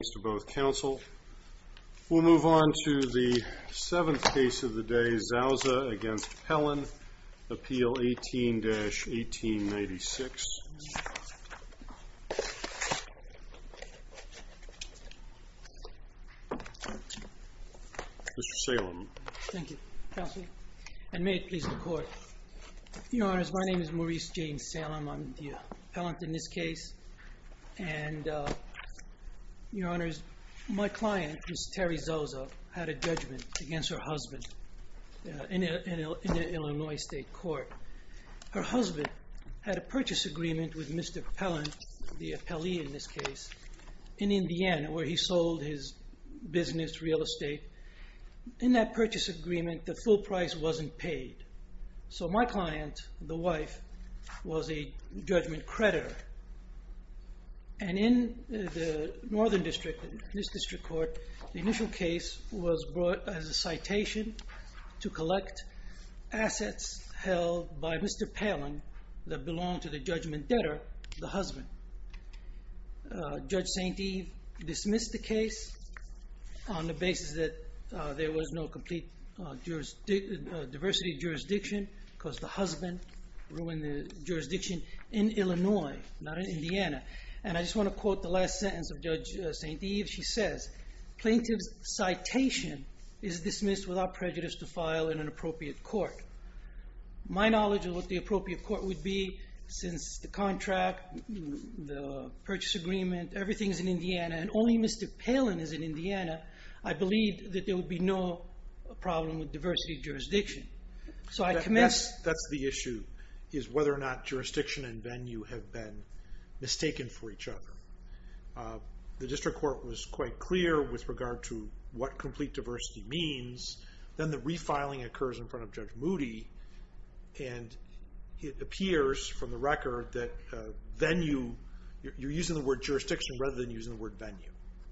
Thanks to both counsel. We'll move on to the seventh case of the day, Zousa v. Pellin, appeal 18-1896. Mr. Salem. Thank you, counsel, and may it please the court. Your Honors, my name is Maurice James Salem. I'm the appellant in this case. And, Your Honors, my client, Ms. Terry Zousa, had a judgment against her husband in the Illinois State Court. Her husband had a purchase agreement with Mr. Pellin, the appellee in this case, in Indiana, where he sold his business, real estate. In that purchase agreement, the full price wasn't paid. So my client, the wife, was a judgment creditor. And in the northern district, in this district court, the initial case was brought as a citation to collect assets held by Mr. Pellin that belonged to the judgment debtor, the husband. Judge St. Eve dismissed the case on the basis that there was no complete diversity of jurisdiction because the husband ruined the jurisdiction in Illinois, not in Indiana. And I just want to quote the last sentence of Judge St. Eve. She says, Plaintiff's citation is dismissed without prejudice to file in an appropriate court. My knowledge of what the appropriate court would be, since the contract, the purchase agreement, everything's in Indiana, and only Mr. Pellin is in Indiana, I believe that there would be no problem with diversity of jurisdiction. So I commence... That's the issue, is whether or not jurisdiction and venue have been mistaken for each other. The district court was quite clear with regard to what complete diversity means. Then the you're using the word jurisdiction rather than using the word venue.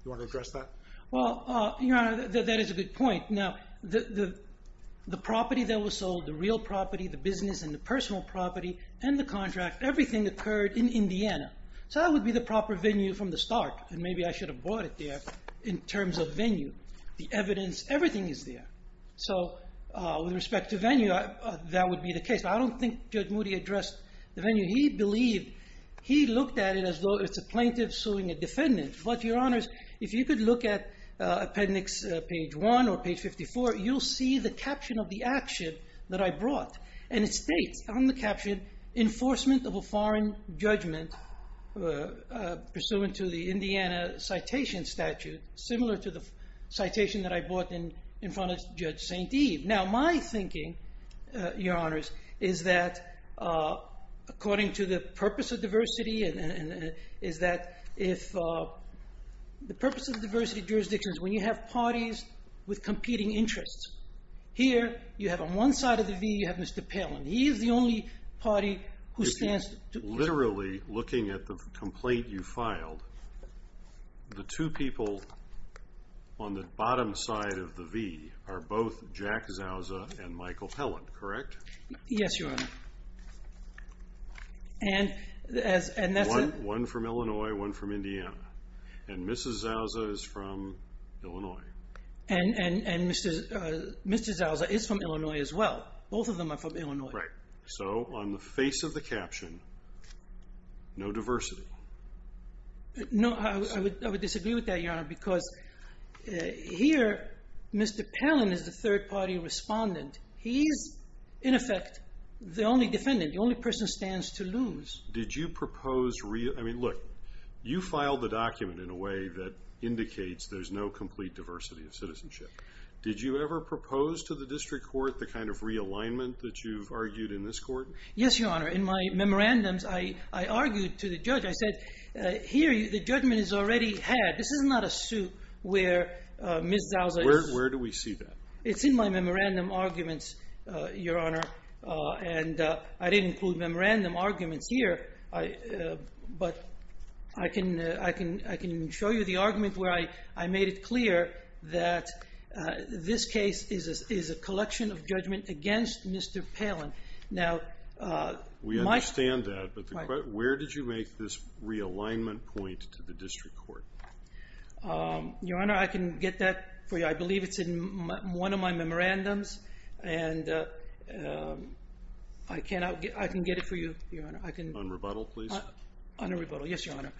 You want to address that? Well, Your Honor, that is a good point. Now, the property that was sold, the real property, the business and the personal property, and the contract, everything occurred in Indiana. So that would be the proper venue from the start. And maybe I should have bought it there in terms of venue. The evidence, everything is there. So with respect to venue, that would be the case. I don't think Judge Moody addressed the venue. He believed, he looked at it as though it's a plaintiff suing a defendant. But, Your Honors, if you could look at appendix page 1 or page 54, you'll see the caption of the action that I brought. And it states on the caption, enforcement of a foreign judgment pursuant to the Indiana citation statute, similar to the citation that I brought in front of Judge St. Eve. Now, my thinking, Your Honors, is that according to the purpose of diversity, is that if the purpose of diversity jurisdiction is when you have parties with competing interests. Here, you have on one side of the V, you have Mr. Palin. He is the only party who stands to- If you're literally looking at the complaint you filed, the two people on the bottom side of the V are both Jack Zauza and Michael Pellant, correct? Yes, Your Honor. And that's- One from Illinois, one from Indiana. And Mrs. Zauza is from Illinois. And Mr. Zauza is from Illinois as well. Both of them are from Illinois. Right. So on the face of the caption, no diversity. No, I would disagree with that, Your Honor, because here, Mr. Palin is the third-party respondent. He's, in effect, the only defendant. The only person stands to lose. Did you propose- I mean, look, you filed the document in a way that indicates there's no complete diversity of citizenship. Did you ever propose to the district court the kind of realignment that you've argued in this court? Yes, Your Honor. In my memorandums, I argued to the judge. I said, here, the judgment is already had. This is not a suit where Ms. Zauza is- Where do we see that? It's in my memorandum arguments, Your Honor. And I didn't include memorandum arguments here. But I can show you the argument where I made it clear that this case is a collection of judgment against Mr. Palin. Now- We understand that, but where did you make this realignment point to the district court? Your Honor, I can get that for you. I believe it's in one of my memorandums. And I can get it for you, Your Honor. On rebuttal, please? On a rebuttal, yes, Your Honor.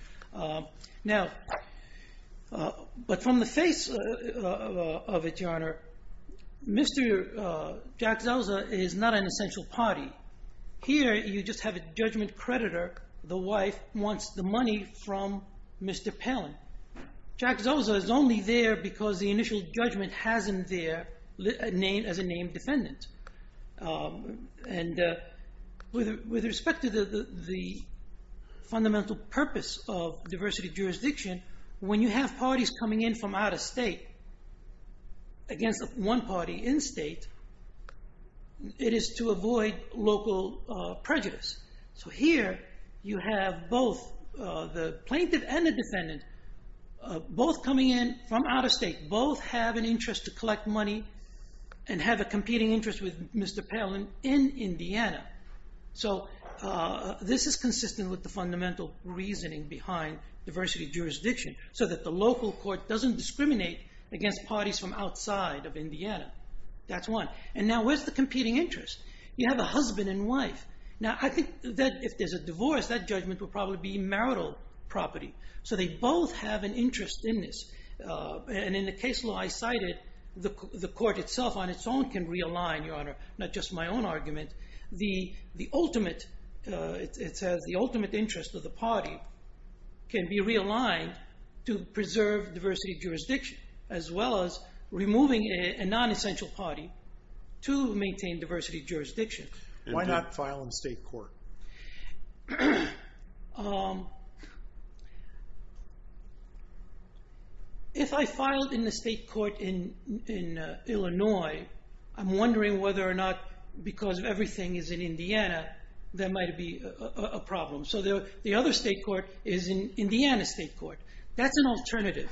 Mr. Jack Zauza is not an essential party. Here, you just have a judgment creditor. The wife wants the money from Mr. Palin. Jack Zauza is only there because the initial judgment has him there as a named defendant. And with respect to the fundamental purpose of diversity of jurisdiction, when you have parties coming in from out of state against one party in state, it is to avoid local prejudice. So here, you have both the plaintiff and the defendant both coming in from out of state, both have an interest to collect money and have a competing interest with Mr. Palin in Indiana. So this is consistent with the fundamental reasoning behind diversity of jurisdiction so that the local court doesn't discriminate against parties from outside of Indiana. That's one. And now, where's the competing interest? You have a husband and wife. Now, I think that if there's a divorce, that judgment would probably be marital property. So they both have an interest in this. And in the case law I cited, the court itself on its own can realign, Your Honor, not just my own argument. The ultimate interest of the party can be realigned to preserve diversity of jurisdiction as well as removing a non-essential party to maintain diversity of jurisdiction. Why not file in state court? If I filed in the state court in Illinois, I'm wondering whether or not, because everything is in Indiana, there might be a problem. So the other state court is an Indiana state court. That's an alternative.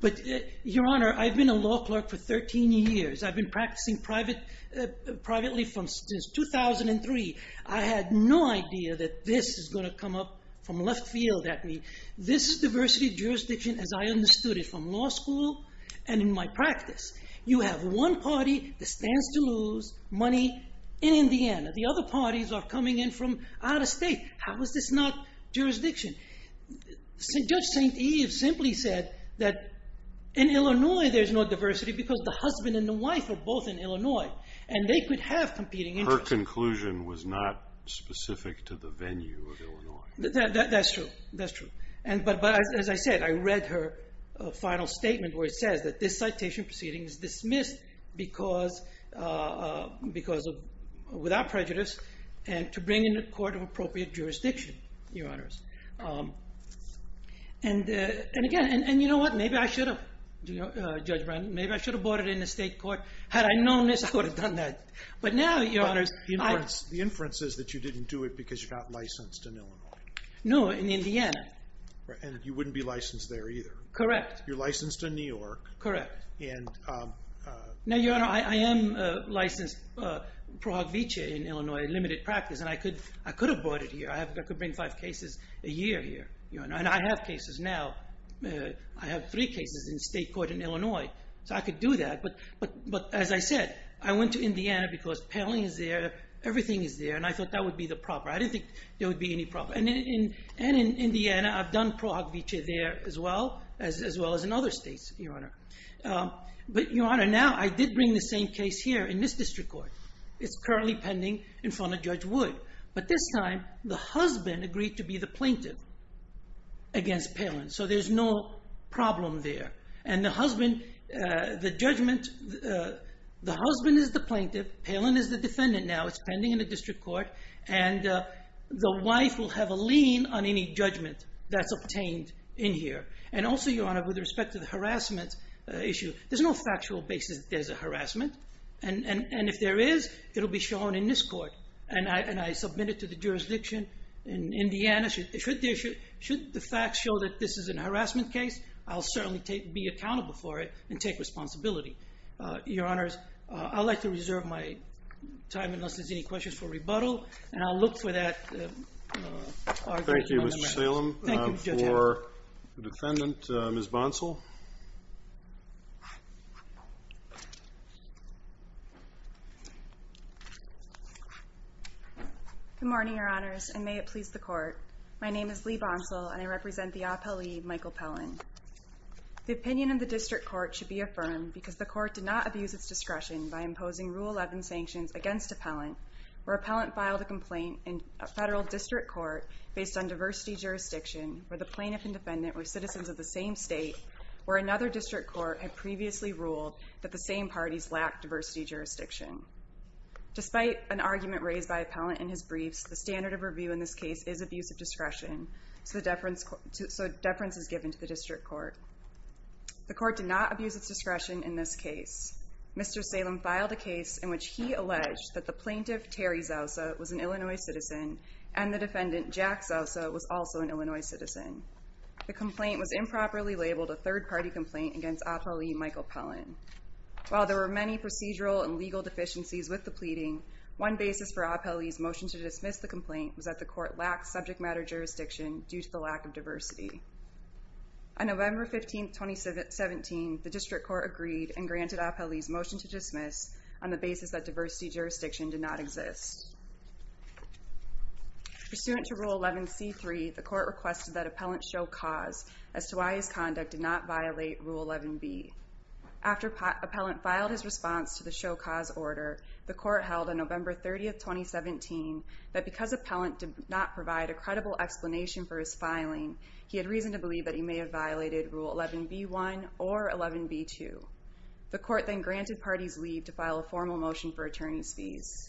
But, Your Honor, I've been a law clerk for 13 years. I've been practicing privately since 2003. I had no idea that this is going to come up from left field at me. This diversity of jurisdiction, as I understood it from law school and in my practice, you have one party that stands to lose money in Indiana. The other parties are coming in from out of state. How is this not jurisdiction? Judge St. Eve simply said that in Illinois there's no diversity because the husband and the wife are both in Illinois, and they could have competing interests. Her conclusion was not specific to the venue of Illinois. That's true. That's true. But as I said, I read her final statement where it says that this citation proceeding is dismissed without prejudice and to bring in a court of appropriate jurisdiction, Your Honors. And, again, you know what? Maybe I should have, Judge Brown. Maybe I should have brought it in the state court. Had I known this, I would have done that. But now, Your Honors, I... The inference is that you didn't do it because you got licensed in Illinois. No, in Indiana. And you wouldn't be licensed there either. Correct. You're licensed in New York. Correct. And... Now, Your Honor, I am licensed Pro Hoc Vitae in Illinois, a limited practice, and I could have brought it here. I could bring five cases a year here, Your Honor. And I have cases now. I have three cases in state court in Illinois, so I could do that. But, as I said, I went to Indiana because Pelling is there, everything is there, and I thought that would be the proper. I didn't think there would be any problem. And in Indiana, I've done Pro Hoc Vitae there as well, as well as in other states, Your Honor. But, Your Honor, now I did bring the same case here in this district court. It's currently pending in front of Judge Wood. But this time, the husband agreed to be the plaintiff against Pelling, so there's no problem there. And the husband, the judgment, the husband is the plaintiff, Pelling is the defendant now. That's what's pending in the district court. And the wife will have a lien on any judgment that's obtained in here. And also, Your Honor, with respect to the harassment issue, there's no factual basis that there's a harassment. And if there is, it will be shown in this court. And I submit it to the jurisdiction in Indiana. Should the facts show that this is a harassment case, I'll certainly be accountable for it and take responsibility. Your Honors, I'd like to reserve my time, unless there's any questions, for rebuttal. And I'll look for that argument. Thank you, Mr. Salem. For the defendant, Ms. Bonsall. Good morning, Your Honors, and may it please the court. My name is Leigh Bonsall, and I represent the appellee, Michael Pelling. The opinion of the district court should be affirmed because the court did not abuse its discretion by imposing Rule 11 sanctions against appellant, where appellant filed a complaint in a federal district court based on diversity jurisdiction, where the plaintiff and defendant were citizens of the same state, where another district court had previously ruled that the same parties lacked diversity jurisdiction. Despite an argument raised by appellant in his briefs, the standard of review in this case is abuse of discretion, so deference is given to the district court. The court did not abuse its discretion in this case. Mr. Salem filed a case in which he alleged that the plaintiff, Terry Zausa, was an Illinois citizen, and the defendant, Jack Zausa, was also an Illinois citizen. The complaint was improperly labeled a third-party complaint against appellee, Michael Pelling. While there were many procedural and legal deficiencies with the pleading, one basis for appellee's motion to dismiss the complaint was that the court lacked subject matter jurisdiction due to the lack of diversity. On November 15, 2017, the district court agreed and granted appellee's motion to dismiss on the basis that diversity jurisdiction did not exist. Pursuant to Rule 11C.3, the court requested that appellant show cause as to why his conduct did not violate Rule 11B. After appellant filed his response to the show cause order, the court held on November 30, 2017, that because appellant did not provide a credible explanation for his filing, he had reason to believe that he may have violated Rule 11B.1 or 11B.2. The court then granted parties leave to file a formal motion for attorney's fees.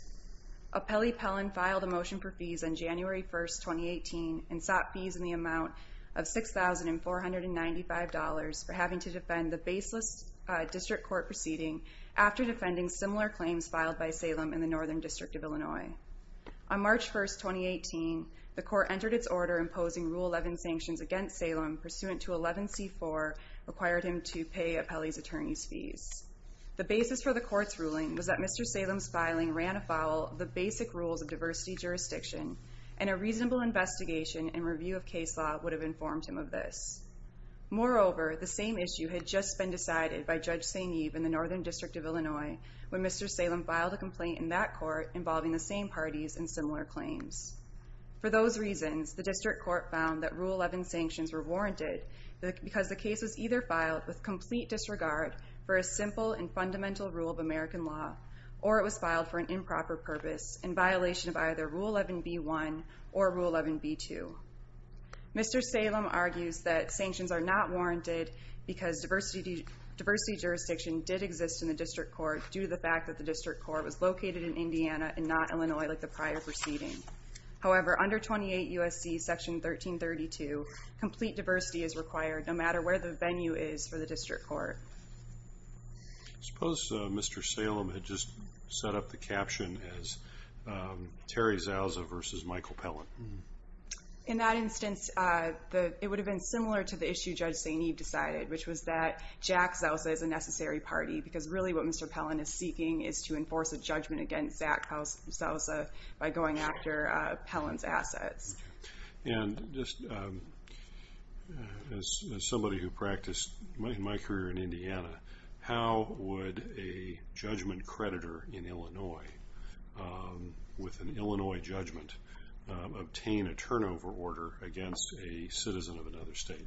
Appellee Pelling filed a motion for fees on January 1, 2018 and sought fees in the amount of $6,495 for having to defend the baseless district court proceeding after defending similar claims filed by Salem in the Northern District of Illinois. On March 1, 2018, the court entered its order imposing Rule 11 sanctions against Salem pursuant to 11C.4 required him to pay appellee's attorney's fees. The basis for the court's ruling was that Mr. Salem's filing ran afoul of the basic rules of diversity jurisdiction and a reasonable investigation and review of case law would have informed him of this. Moreover, the same issue had just been decided by Judge Sainiv in the Northern District of Illinois when Mr. Salem filed a complaint in that court involving the same parties and similar claims. For those reasons, the district court found that Rule 11 sanctions were warranted because the case was either filed with complete disregard for a simple and fundamental rule of American law or it was filed for an improper purpose in violation of either Rule 11B.1 or Rule 11B.2. Mr. Salem argues that sanctions are not warranted because diversity jurisdiction did exist in the district court due to the fact that the district court was located in Indiana and not Illinois like the prior proceeding. However, under 28 U.S.C. Section 1332, complete diversity is required no matter where the venue is for the district court. I suppose Mr. Salem had just set up the caption as Terry Zausa versus Michael Pellant. In that instance, it would have been similar to the issue that Judge Sainiv decided, which was that Jack Zausa is a necessary party because really what Mr. Pellant is seeking is to enforce a judgment against Zach Zausa by going after Pellant's assets. And just as somebody who practiced in my career in Indiana, how would a judgment creditor in Illinois with an Illinois judgment obtain a turnover order against a citizen of another state?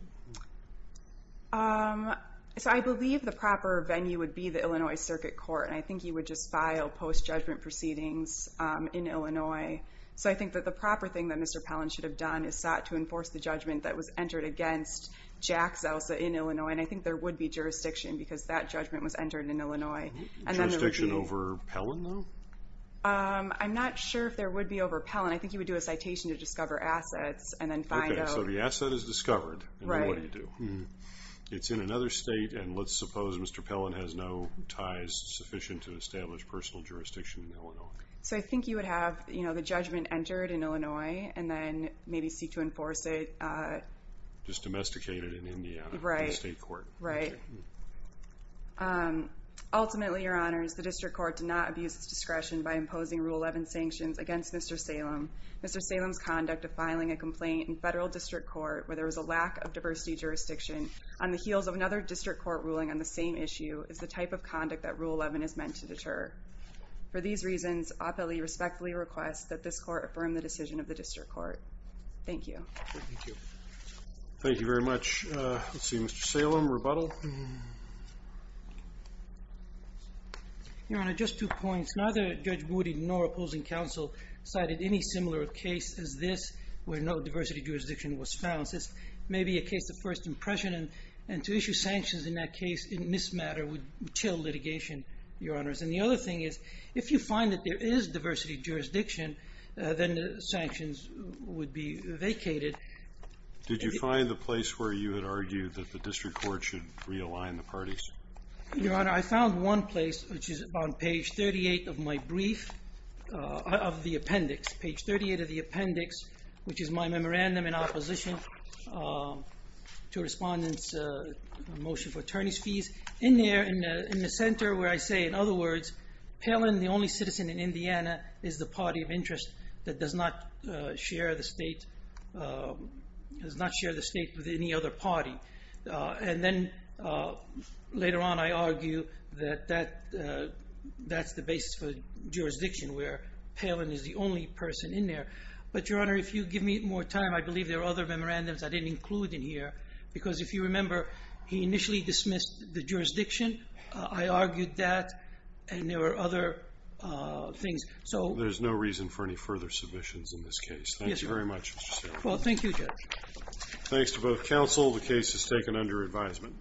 I believe the proper venue would be the Illinois Circuit Court, and I think he would just file post-judgment proceedings in Illinois. So I think that the proper thing that Mr. Pellant should have done is sought to enforce the judgment that was entered against Jack Zausa in Illinois, and I think there would be jurisdiction because that judgment was entered in Illinois. Jurisdiction over Pellant, though? I'm not sure if there would be over Pellant. I think he would do a citation to discover assets and then find out. Okay, so the asset is discovered. Right. And then what do you do? It's in another state, and let's suppose Mr. Pellant has no ties sufficient to establish personal jurisdiction in Illinois. So I think he would have the judgment entered in Illinois and then maybe seek to enforce it. Just domesticate it in Indiana in the state court. Right. Ultimately, Your Honors, the district court did not abuse its discretion by imposing Rule 11 sanctions against Mr. Salem. Mr. Salem's conduct of filing a complaint in federal district court where there was a lack of diversity jurisdiction on the heels of another district court ruling on the same issue is the type of conduct that Rule 11 is meant to deter. For these reasons, I respectfully request that this court affirm the decision of the district court. Thank you. Thank you. Thank you very much. Let's see, Mr. Salem, rebuttal? Your Honor, just two points. Neither Judge Woody nor opposing counsel cited any similar case as this where no diversity jurisdiction was found. This may be a case of first impression, and to issue sanctions in that case in this matter would chill litigation, Your Honors. And the other thing is if you find that there is diversity jurisdiction, then the sanctions would be vacated. Did you find the place where you had argued that the district court should realign the parties? Your Honor, I found one place, which is on page 38 of my brief of the appendix, page 38 of the appendix, which is my memorandum in opposition to Respondent's motion for attorneys' fees. In there, in the center where I say, in other words, Palin, the only citizen in Indiana, is the party of interest that does not share the state with any other party. And then later on, I argue that that's the basis for jurisdiction where Palin is the only person in there. But, Your Honor, if you give me more time, I believe there are other memorandums I didn't include in here, because if you remember, he initially dismissed the jurisdiction. I argued that, and there were other things. There's no reason for any further submissions in this case. Thank you very much, Mr. Sterling. Well, thank you, Judge. Thanks to both counsel. The case is taken under advisement.